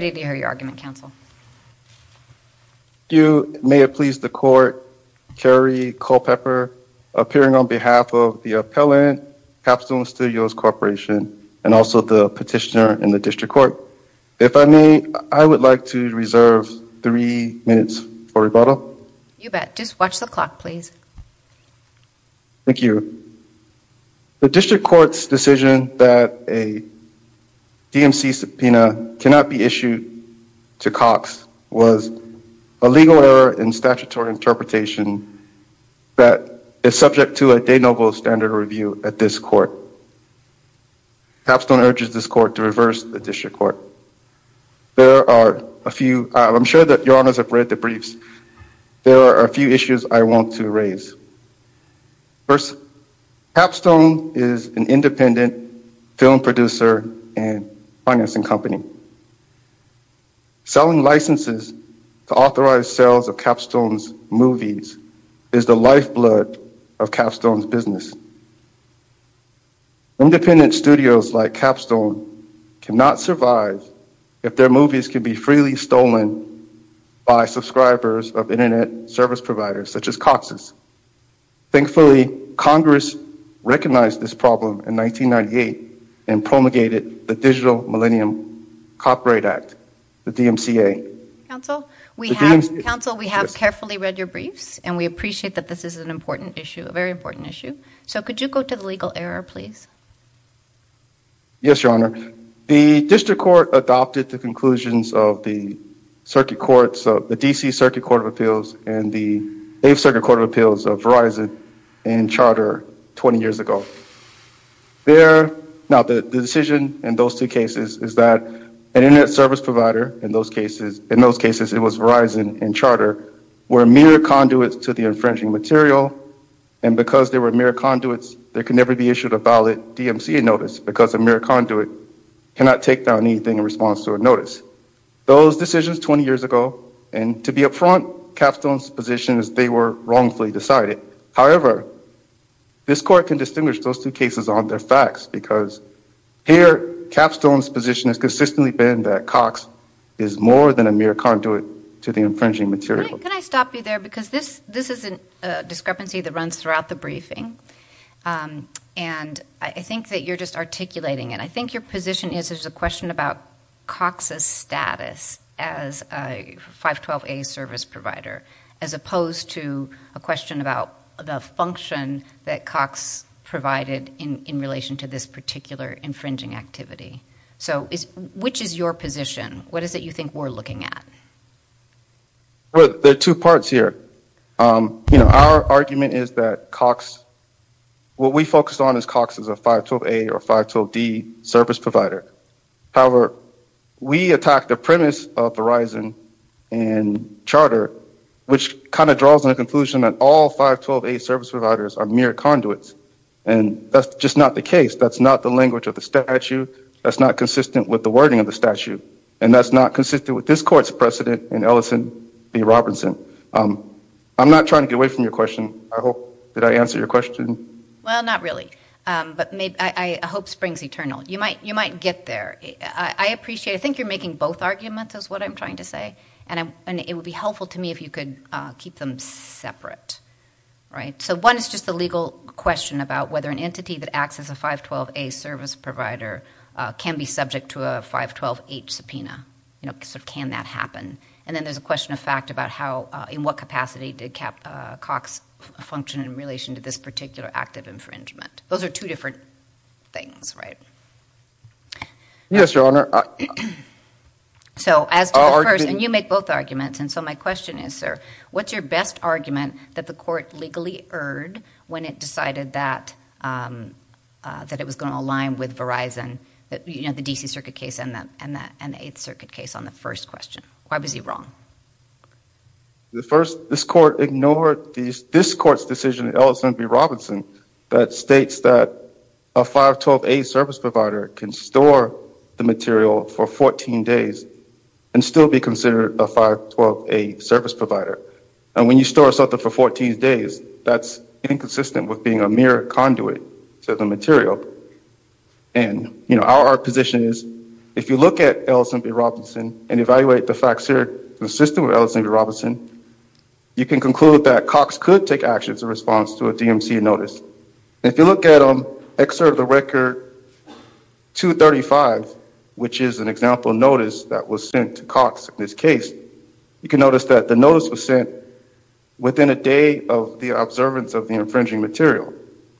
to hear your argument, Council. You may have pleased the court. Kerry Culpepper appearing on behalf of the Appellant Capsule Studios Corporation and also the petitioner in the District Court. If I may, I would like to reserve three minutes for rebuttal. You bet. Just watch the clock, please. Thank you. The District Court's decision that a DMC subpoena cannot be issued to Cox was a legal error in statutory interpretation that is subject to a de novo standard review at this court. Capstone urges this court to reverse the District Court. There are a few, I'm sure that your honors have read the briefs, there are a few issues I want to raise. First, Capstone is an independent film producer and financing company. Selling licenses to authorize sales of Capstone's movies is the lifeblood of Capstone's business. Independent studios like Capstone cannot survive if their movies can be freely stolen by subscribers of service providers such as Cox's. Thankfully, Congress recognized this problem in 1998 and promulgated the Digital Millennium Copyright Act, the DMCA. Council, we have carefully read your briefs and we appreciate that this is an important issue, a very important issue. So could you go to the legal error, please? Yes, your honor. The District Court adopted the conclusions of the circuit courts, the D.C. Circuit Court of Appeals and the 8th Circuit Court of Appeals of Verizon and Charter 20 years ago. There, now the decision in those 2 cases is that an internet service provider in those cases, in those cases it was Verizon and Charter were mere conduits to the infringing material and because they were mere conduits, they could never be issued a ballot DMCA notice because a mere conduit cannot take down anything in response to a notice. Those decisions 20 years ago and to be upfront, Capstone's position is they were wrongfully decided. However, this court can distinguish those 2 cases on their facts because here Capstone's position has consistently been that Cox is more than a mere conduit to the infringing material. Can I stop you there because this is a discrepancy that runs throughout the briefing and I think that you're just articulating it. I think your position is there's a question about Cox's status as a 512A service provider as opposed to a question about the function that Cox provided in relation to this particular infringing activity. So, which is your position? What is it you think we're looking at? Well, there are 2 parts here. Our argument is that what we focused on is Cox as a 512A or 512D service provider. However, we attacked the premise of Verizon and Charter which kind of draws on the conclusion that all 512A service providers are mere conduits and that's just not the case. That's not the language of the statute. That's not consistent with the wording of the statute and that's not consistent with this court's precedent in Ellison v. Robinson. I'm not trying to get away from your question. I hope that I answered your question. Well, not really, but I hope springs eternal. You might get there. I appreciate it. I think you're making both arguments is what I'm trying to say and it would be helpful to me if you could keep them separate. So, one is just the legal question about whether an entity that acts as a 512A service provider can be subject to a 512H subpoena. You know, can that happen? And then there's a question of fact about how in what capacity did Cox function in relation to this particular act of infringement. Those are 2 different things, right? Yes, Your Honor. So, as to the first and you make both arguments and so my question is, sir, what's your best argument that the court legally erred when it decided that that it was going to align with Verizon, you know, the D.C. Circuit case and the 8th Circuit case on the first question? Why was he wrong? The first, this court ignored this court's decision in Ellison v. Robinson that states that a 512A service provider can store the material for 14 days and still be considered a 512A service provider. And when you store something for 14 days, that's inconsistent with being a mere conduit to the material. And, you know, our position is if you look at Ellison v. Robinson and evaluate the facts here consistent with Ellison v. Robinson, you can conclude that Cox could take actions in response to a DMC notice. If you look at excerpt of the record 235, which is an example notice that was to Cox in this case, you can notice that the notice was sent within a day of the observance of the infringing material.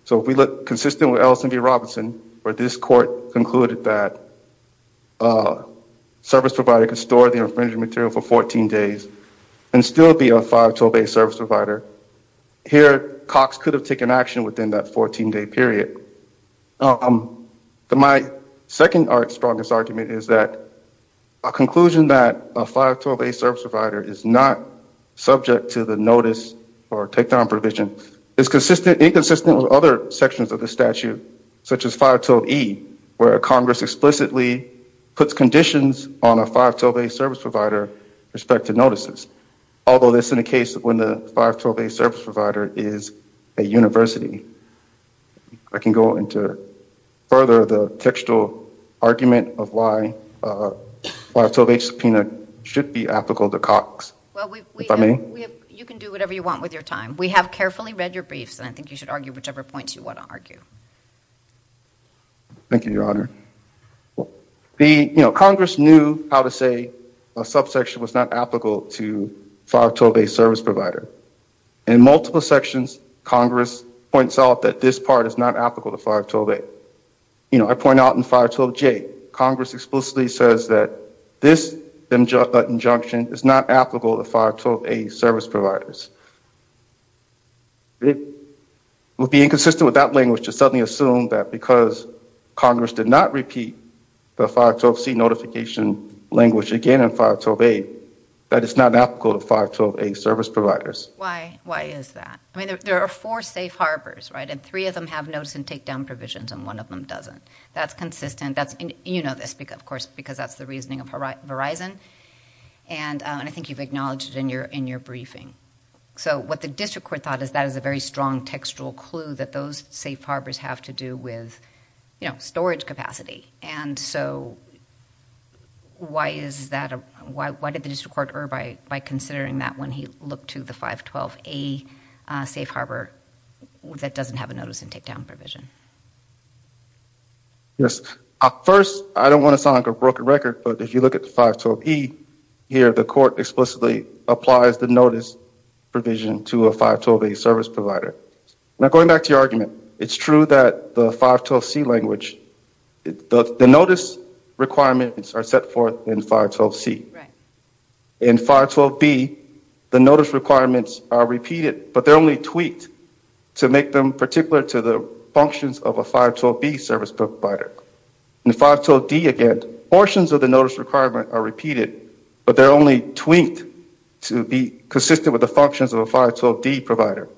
So, if we look consistent with Ellison v. Robinson where this court concluded that a service provider could store the infringing material for 14 days and still be a 512A service provider, here Cox could have taken action within that 14-day period. My second strongest argument is that a conclusion that a 512A service provider is not subject to the notice or takedown provision is inconsistent with other sections of the statute, such as 512E, where Congress explicitly puts conditions on a 512A service provider with respect to notices. Although this is the case when the 512A service provider is a university. I can go into further the textual argument of why a 512A subpoena should be applicable to Cox. Well, you can do whatever you want with your time. We have carefully read your briefs and I think you should argue whichever points you want to argue. Thank you, Your Honor. The, you know, Congress knew how to say a subsection was not applicable to a 512A service provider. In multiple sections, Congress points out that this part is not applicable to 512A. You know, I point out in 512J, Congress explicitly says that this injunction is not applicable to 512A service providers. It would be inconsistent with that language to suddenly assume that because Congress did not repeat the 512C notification language again in 512A, that it's not applicable to 512A service providers. Why is that? I mean, there are four safe harbors, right? And three of them have notice and takedown provisions and one of them doesn't. That's consistent. You know this, of course, because that's the reasoning of Verizon. And I think you've acknowledged it in your briefing. So what the district court thought is that is a very strong textual clue that those safe harbors have to do with, you know, storage capacity. And so why is that, why did the district court err by considering that when he looked to the 512A safe harbor that doesn't have a notice and takedown provision? Yes. First, I don't want to sound like a broken record, but if you look at the 512E here, the court explicitly applies the notice provision to a 512A service provider. Now going back to your argument, it's true that the 512C language, the notice requirements are set forth in 512C. In 512B, the notice requirements are repeated, but they're only tweaked to make them particular to the functions of a 512B service provider. In 512D again, portions of the notice requirement are repeated, but they're only tweaked to be consistent with the functions of a 512D provider.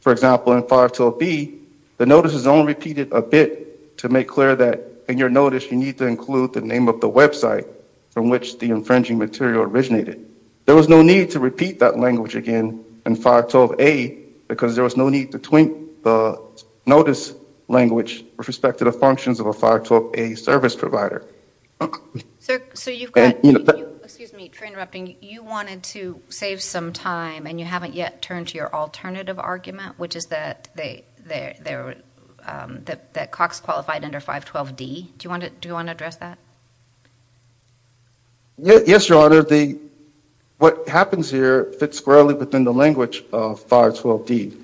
For example, in 512B, the notice is only repeated a bit to make clear that in your notice you need to include the name of the website from which the infringing material originated. There was no need to repeat that language again in 512A because there was no need to tweak the notice language with respect to the functions of a 512A service provider. Sir, so you've got, excuse me for interrupting, you wanted to save some time and you haven't yet turned to your alternative argument, which is that Cox qualified under 512D. Do you want to address that? Yes, Your Honor. What happens here fits squarely within the language of 512D.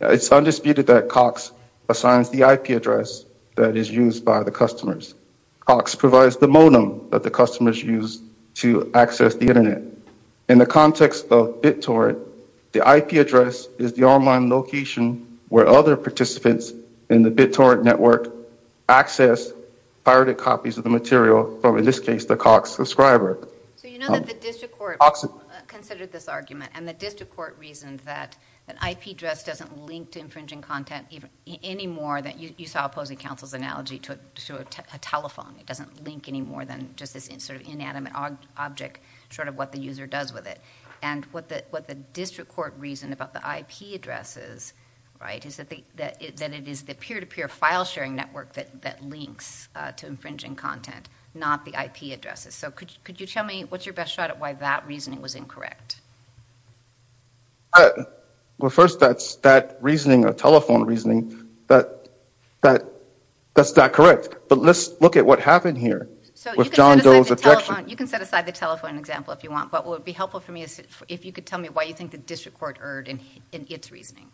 It's undisputed that Cox assigns the IP address that is used by the customers. Cox provides the modem that the IP address is the online location where other participants in the BitTorrent network access pirated copies of the material from, in this case, the Cox subscriber. So you know that the district court considered this argument and the district court reasoned that an IP address doesn't link to infringing content any more than, you saw opposing counsel's analogy to a telephone. It doesn't link any more than just this sort of inanimate object, sort of what the user does with it. And what the district court reasoned about the IP addresses, right, is that it is the peer-to-peer file sharing network that links to infringing content, not the IP addresses. So could you tell me what's your best shot at why that reasoning was incorrect? Well, first that's that reasoning, a telephone reasoning, that's not correct. But let's look at what happened here with John Doe's objection. You can set aside the telephone example if you want, but what would be helpful for me is if you could tell me why you think the district court erred in its reasoning.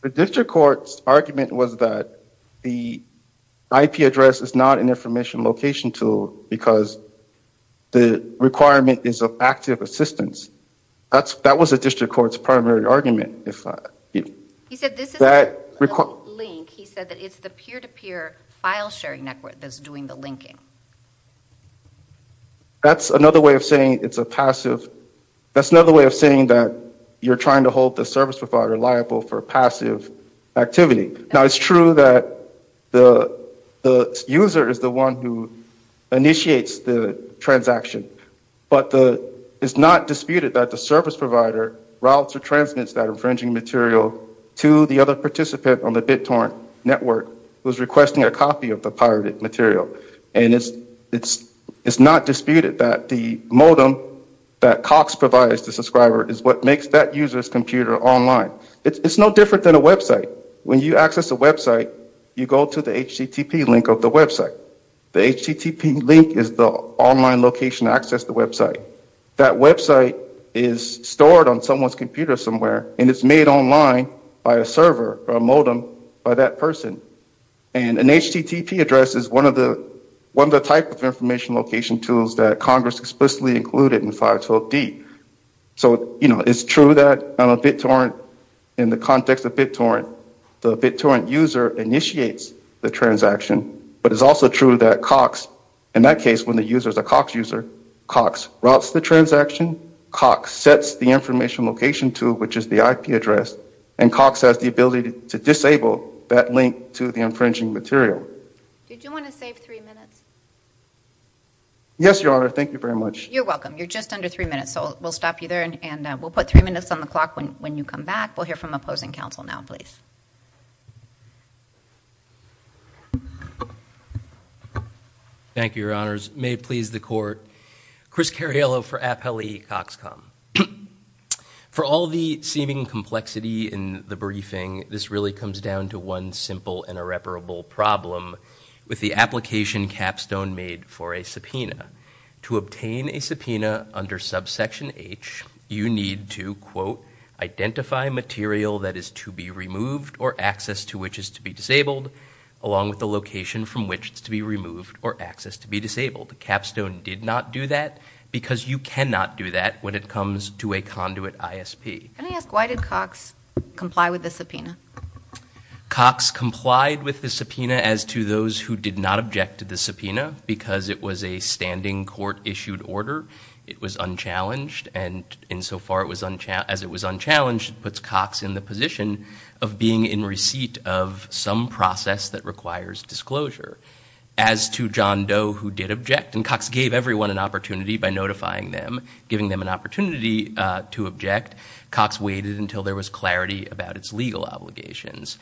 The district court's argument was that the IP address is not an information location tool because the requirement is of active assistance. That was the district court's primary argument. He said this is the link, he said that it's the peer-to-peer file sharing network that's doing the linking. That's another way of saying it's a passive, that's another way of saying that you're trying to hold the service provider liable for passive activity. Now it's true that the user is the one who initiates the transaction, but the, it's not disputed that the service provider routes or transmits that infringing material to the other participant on the BitTorrent network who's requesting a copy of the pirated material. And it's not disputed that the modem that Cox provides the subscriber is what makes that user's computer online. It's no different than a website. When you access a website, you go to the HTTP link of the website. The HTTP link is the online location to access the website. That website is stored on someone's computer somewhere and it's made online by a server or a modem by that person. And an HTTP address is one of the type of information location tools that Congress explicitly included in 512D. So, you know, it's true that on a BitTorrent, in the context of but it's also true that Cox, in that case, when the user is a Cox user, Cox routes the transaction, Cox sets the information location tool, which is the IP address, and Cox has the ability to disable that link to the infringing material. Did you want to save three minutes? Yes, Your Honor. Thank you very much. You're welcome. You're just under three minutes, so we'll stop you there and we'll put three minutes on the clock when you come back. We'll hear from opposing counsel now, please. Thank you, Your Honors. May it please the Court. Chris Cariello for Appellee Cox Com. For all the seeming complexity in the briefing, this really comes down to one simple and irreparable problem with the application capstone made for a subpoena. To obtain a subpoena under subsection H, you need to, quote, identify material that is to be removed or access to which is to be disabled along with the location from which it's to be removed or access to be disabled. Capstone did not do that, because you cannot do that when it comes to a conduit ISP. Can I ask why did Cox comply with the subpoena? Cox complied with the subpoena as to those who did not object to the subpoena, because it was a standing court-issued order. It was unchallenged, and insofar as it was unchallenged, it puts Cox in the position of being in receipt of some process that requires disclosure. As to John Doe, who did object, and Cox gave everyone an opportunity by notifying them, giving them an opportunity to object, Cox waited until there was clarity about its legal obligations.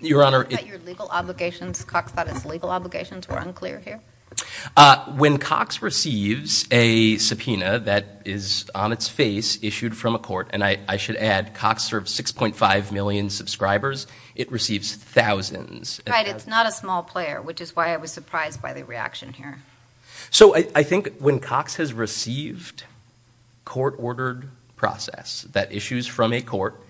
Your Honor, your legal obligations, Cox thought its legal obligations were unclear here. When Cox receives a subpoena that is on its face issued from a court, and I should add Cox serves 6.5 million subscribers, it receives thousands. Right, it's not a small player, which is why I was surprised by the reaction here. So I think when Cox has received court-ordered process that issues from a court,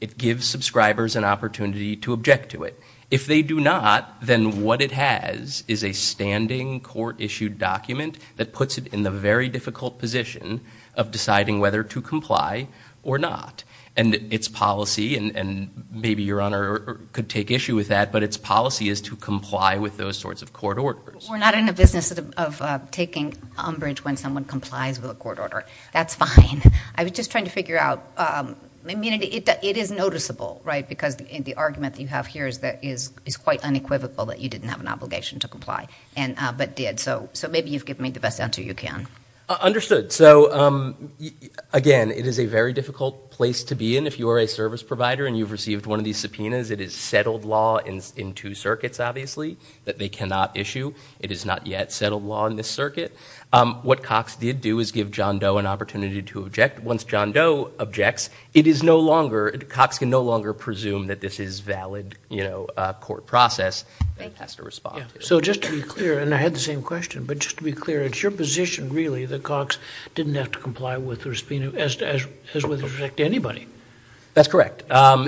it gives subscribers an opportunity to object to it. If they do not, then what it has is a standing court-issued document that puts it in the very difficult position of deciding whether to comply or not. And its policy, and maybe your Honor could take issue with that, but its policy is to comply with those sorts of court orders. We're not in the business of taking umbrage when someone complies with a court order. That's fine. I was just trying to figure out, I mean, it is noticeable, right, because the argument that you have here is that is quite unequivocal that you didn't have an obligation to comply, but did. So maybe you've given me the best answer you can. Understood. So again, it is a very difficult place to be in if you are a service provider and you've received one of these subpoenas. It is settled law in two circuits, obviously, that they cannot issue. It is not yet settled law in this circuit. What Cox did do is give John Doe an opportunity to object. Once John Doe objects, it is no longer, Cox can no longer presume that this is valid, you know, court process and has to respond. So just to be clear, and I had the same question, but just to be clear, it's your position really that Cox didn't have to comply with the subpoena as with respect to anybody. That's correct.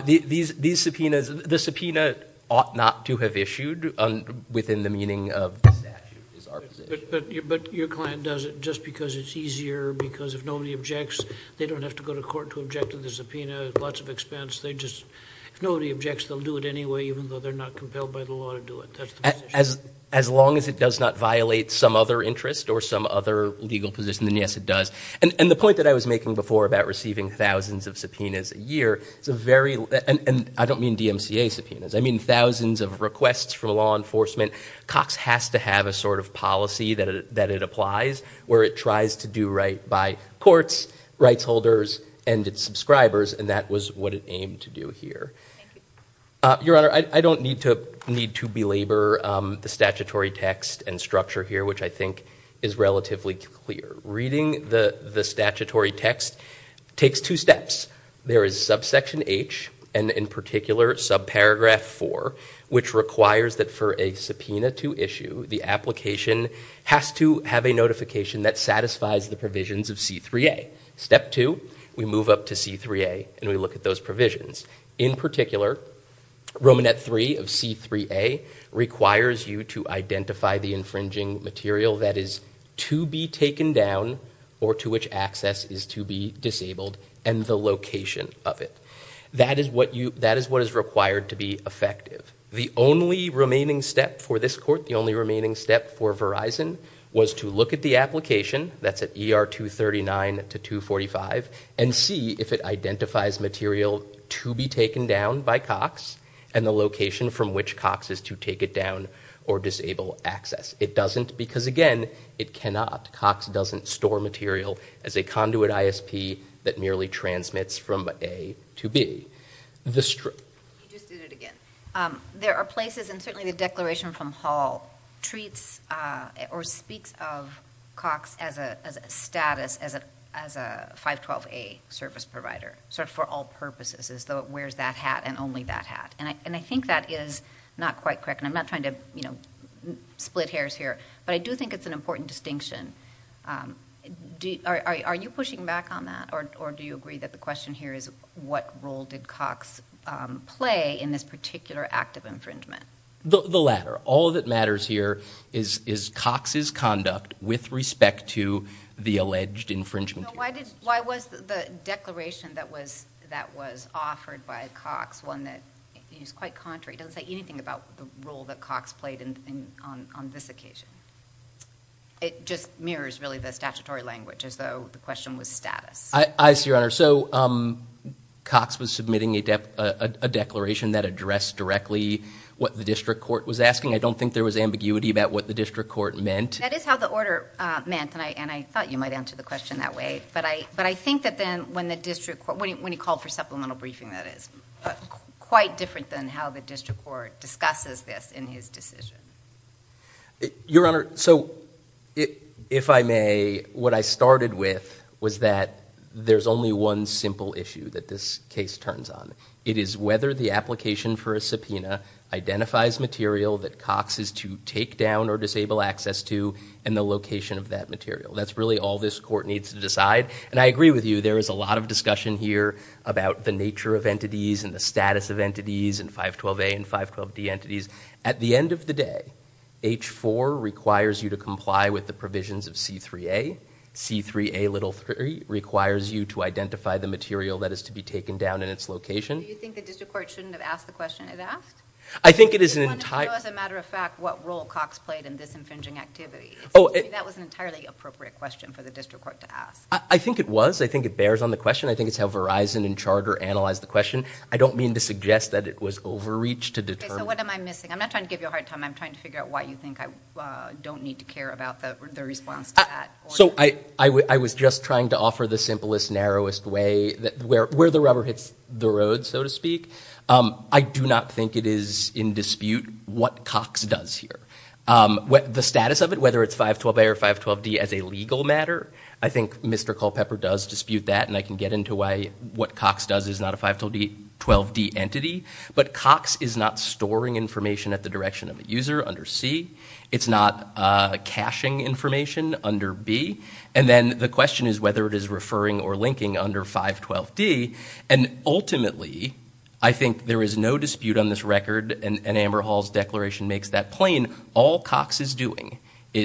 These subpoenas, the subpoena ought not to have issued within the meaning of the statute is our position. But your client does it just because it's easier, because if nobody objects, they don't have to go to court to object to the subpoena, lots of expense. They just, if nobody objects, they'll do it anyway, even though they're not compelled by the law to do it. That's the position. As long as it does not violate some other interest or some other legal position, then yes, it does. And the point that I was making before about receiving thousands of subpoenas a year, it's a very, and I don't mean DMCA subpoenas, I mean thousands of requests from law enforcement. Cox has to have a sort of policy that it applies, where it tries to do right by courts, rights holders, and its subscribers, and that was what it aimed to do here. Your Honor, I don't need to belabor the statutory text and structure here, which I think is relatively clear. Reading the statutory text takes two steps. There is subsection H, and in particular, subparagraph 4, which requires that for a subpoena to issue, the application has to have a notification that satisfies the provisions of C-3A. Step two, we move up to C-3A, and we look at those provisions. In particular, Romanet 3 of C-3A requires you to identify the infringing material that is to be taken down, or to which access is to be disabled, and the location of it. That is what you, that is what is required to be effective. The only remaining step for this court, the only remaining step for Verizon, was to look at the application, that's at ER 239 to 245, and see if it identifies material to be taken down by Cox, and the location from which Cox is to take it down or disable access. It doesn't, because again, it cannot. Cox doesn't store material as a conduit ISP that merely transmits from A to B. You just did it again. There are places, and certainly the declaration from Hall treats or speaks of Cox as a status, as a 512A service provider, sort of for all purposes, as though it wears that hat and only that hat. I think that is not quite correct, and I'm not trying to split hairs here, but I do think it's an important distinction. Are you pushing back on that, or do you agree that the question here is what role did Cox play in this particular act of infringement? The latter. All that matters here is Cox's conduct with respect to the alleged infringement. Why was the declaration that was offered by Cox one that is quite contrary? It doesn't say anything about the role that Cox played on this occasion. It just mirrors really the statutory language, as though the question was status. I see, Your Honor. So Cox was submitting a declaration that addressed directly what the district court was asking. I don't think there was ambiguity about what the district court meant. That is how the order meant, and I thought you might answer the question that way, but I think that then when the district court, when he called for supplemental briefing, that is quite different than how the district court discusses this in his decision. Your Honor, so if I may, what I started with was that there's only one simple issue that this case turns on. It is whether the application for a subpoena identifies material that Cox is to take down or disable access to, and the location of that material. That's really all this court needs to decide, and I agree with you. There is a lot of 512D entities. At the end of the day, H-4 requires you to comply with the provisions of C-3A. C-3A requires you to identify the material that is to be taken down in its location. Do you think the district court shouldn't have asked the question it asked? I think it is an entire... As a matter of fact, what role Cox played in this infringing activity. That was an entirely appropriate question for the district court to ask. I think it was. I think it bears on the question. I think it's how Verizon and analyze the question. I don't mean to suggest that it was overreach to determine... Okay, so what am I missing? I'm not trying to give you a hard time. I'm trying to figure out why you think I don't need to care about the response to that. So I was just trying to offer the simplest, narrowest way, where the rubber hits the road, so to speak. I do not think it is in dispute what Cox does here. The status of it, whether it's 512A or 512D as a legal matter, I think Mr. Culpepper does dispute that, and I can get into why what Cox does is not a 512D entity. But Cox is not storing information at the direction of a user under C. It's not caching information under B. And then the question is whether it is referring or linking under 512D. And ultimately, I think there is no dispute on this record, and Amber Hall's declaration makes that plain. All Cox is doing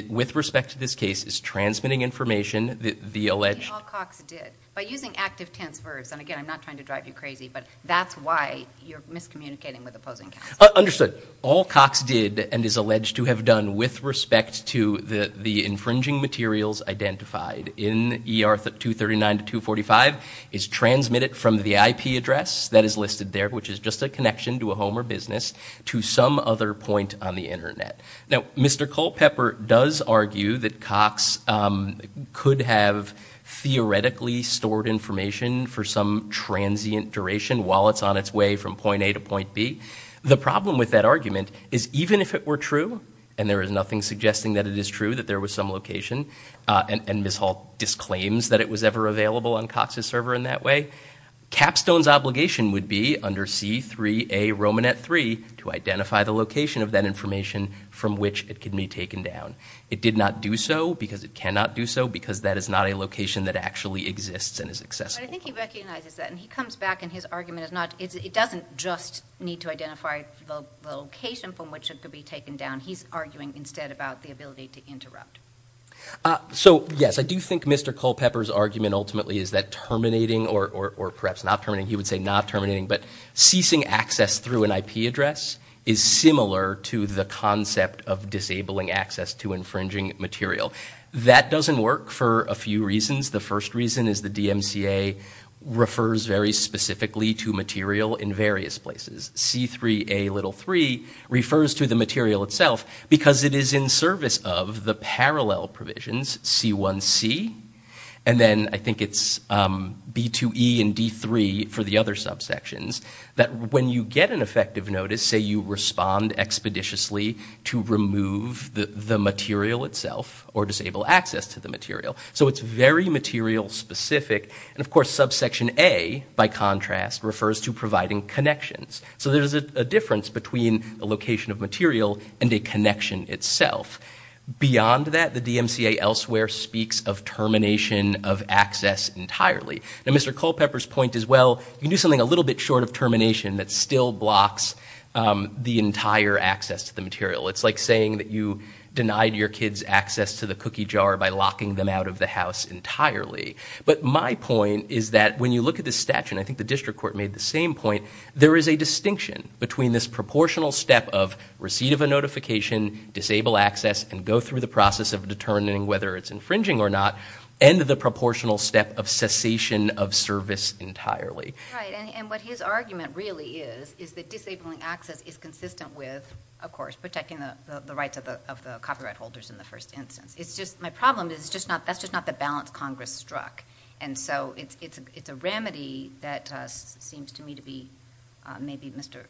with respect to this case is transmitting information that the alleged... All Cox did, by using active tense verbs. And again, I'm not trying to drive you crazy, but that's why you're miscommunicating with opposing counsel. Understood. All Cox did and is alleged to have done with respect to the infringing materials identified in ER 239 to 245 is transmitted from the IP address that is listed there, which is just a connection to a home or business, to some other point on the internet. Now, Mr. Culpepper does argue that Cox could have theoretically stored information for some transient duration while it's on its way from point A to point B. The problem with that argument is even if it were true, and there is nothing suggesting that it is true, that there was some location, and Ms. Hall disclaims that it was ever available on Cox's server in that way, Capstone's obligation would be under C3A Romanet 3 to identify the location of that information from which it can be taken down. It did not do so, because it cannot do so, because that is not a location that actually exists and is accessible. But I think he recognizes that. And he comes back and his argument is not... It doesn't just need to identify the location from which it could be taken down. He's arguing instead about the ability to interrupt. So yes, I do think Mr. Culpepper's argument ultimately is that terminating, or perhaps not terminating, he would say not terminating, but ceasing access through an IP address is similar to the concept of disabling access to infringing material. That doesn't work for a few reasons. The first reason is the DMCA refers very specifically to material in various places. C3A little 3 refers to the material itself, because it is in service of the parallel provisions C1C, and then I think it's B2E and D3 for the other subsections, that when you get an effective notice, say you respond expeditiously to remove the material itself or disable access to the material. So it's very material specific. And of course, subsection A, by contrast, refers to providing connections. So there's a difference between a location of material and a connection itself. Beyond that, the DMCA elsewhere speaks of termination of access entirely. Now, Mr. Culpepper's point is, well, you can do something a little bit short of termination that still blocks the entire access to the material. It's like saying that you denied your kids access to the cookie jar by locking them out of the house entirely. But my point is that when you look at the statute, and I think the district court made the same point, there is a distinction between this proportional step of receipt of a notification, disable access, and go through the process of determining whether it's infringing or not, and the proportional step of cessation of service entirely. Right. And what his argument really is, is that disabling access is consistent with, of course, protecting the rights of the copyright holders in the first instance. It's just my problem is that's just not the balance Congress struck. And so it's a remedy that seems to me to be, maybe Mr.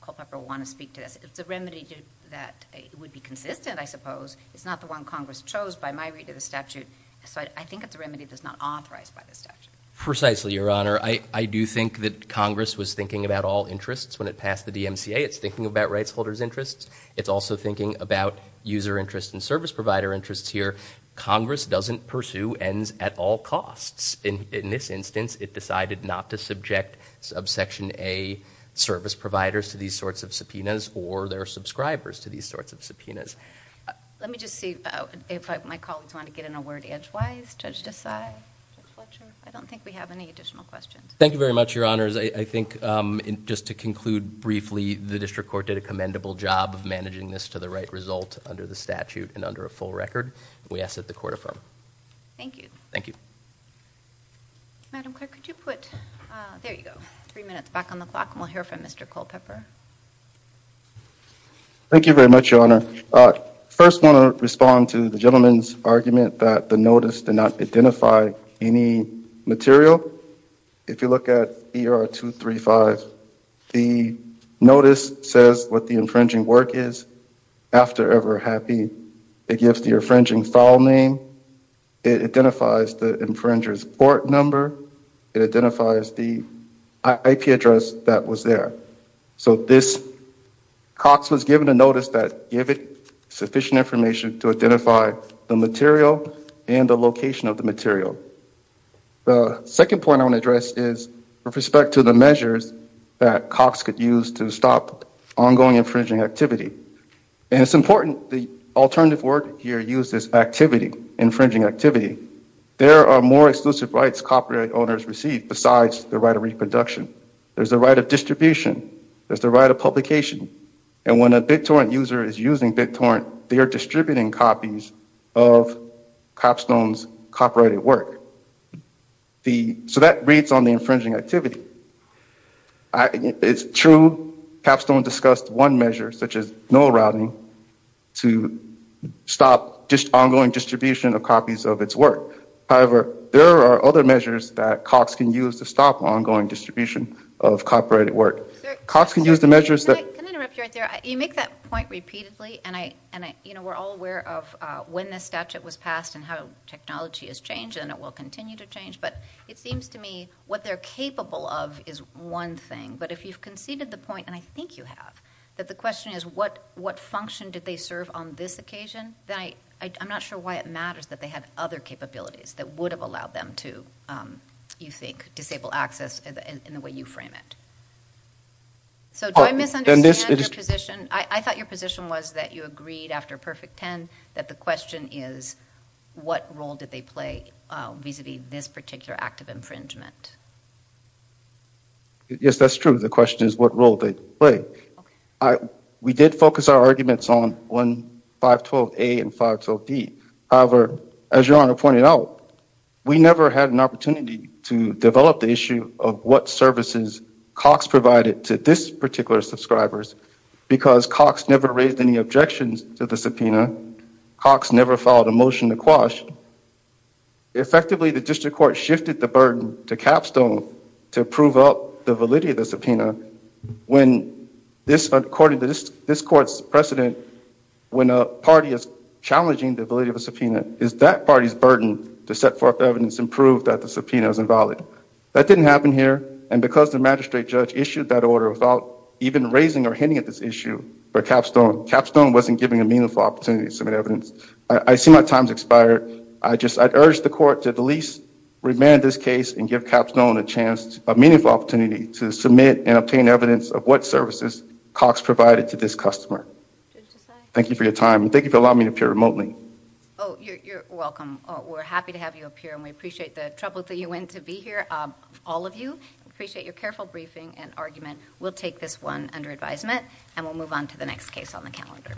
Culpepper will want to speak to this. It's a remedy that would be consistent, I suppose. It's not the one Congress chose by my read of the statute. So I think it's a remedy that's not authorized by the statute. Precisely, Your Honor. I do think that Congress was thinking about all interests when it passed the DMCA. It's thinking about rights holders' interests. It's also thinking about user interest and service provider interests here. Congress doesn't pursue ends at all costs. In this instance, it decided not to subject subsection A service providers to these sorts of subpoenas, or their subscribers to these sorts of subpoenas. Let me just see if my colleagues want to get in a word edgewise. Judge Desai? Judge Fletcher? I don't think we have any additional questions. Thank you very much, Your Honors. I think just to conclude briefly, the district court did a commendable job of managing this to the right result under the statute and under a full record. We ask that the court affirm. Thank you. Thank you. Madam Clerk, could you put, there you go, three minutes back on the clock, and we'll hear from Mr. Culpepper. Thank you very much, Your Honor. First, I want to respond to the gentleman's argument that the notice did not identify any material. If you look at ER 235, the notice says what the infringing work is after Ever Happy. It gives the infringing file name. It identifies the infringer's court number. It identifies the IP address that was there. So Cox was given a notice that gave it sufficient information to identify the material and the location of the material. The second point I want to address is with respect to the measures that Cox could use to stop ongoing infringing activity. And it's important, the alternative word here used is activity, infringing activity. There are more exclusive rights copyright owners receive besides the right of reproduction. There's a right of distribution. There's the right of publication. And when a BitTorrent user is using BitTorrent, they are distributing copies of Capstone's copyrighted work. So that reads on the infringing activity. It's true Capstone discussed one measure, such as null routing, to stop just ongoing distribution of copies of its work. However, there are other measures that Cox can use to stop ongoing distribution of copyrighted Cox can use the measures that- Can I interrupt you right there? You make that point repeatedly, and we're all aware of when this statute was passed and how technology has changed and it will continue to change. But it seems to me what they're capable of is one thing. But if you've conceded the point, and I think you have, that the question is what function did they serve on this occasion? Then I'm not sure why it matters that they had other capabilities that would have allowed them to, you think, disable access in the way you frame it. So do I misunderstand your position? I thought your position was that you agreed after Perfect 10 that the question is what role did they play vis-a-vis this particular act of infringement? Yes, that's true. The question is what role they play. I, we did focus our arguments on 1.512a and 512d. However, as your honor pointed out, we never had an opportunity to develop the issue of what services Cox provided to this particular subscribers because Cox never raised any objections to the subpoena. Cox never filed a motion to quash. Effectively, the district court shifted the burden to Capstone to prove up the validity of the subpoena when this, according to this court's precedent, when a party is challenging the validity of a subpoena, is that party's burden to set forth evidence and prove that the subpoena is invalid. That didn't happen here, and because the magistrate judge issued that order without even raising or hinting at this issue for Capstone, Capstone wasn't giving a meaningful opportunity to submit evidence. I see my time's expired. I just, I'd urge the court to at least remand this case and give Capstone a chance, a meaningful opportunity to submit and obtain evidence of what services Cox provided to this customer. Thank you for your time, and thank you for allowing me to appear remotely. Oh, you're welcome. We're happy to have you appear, and we appreciate the trouble that you went to be here. All of you, appreciate your careful briefing and argument. We'll take this one under advisement, and we'll move on to the next case on the calendar.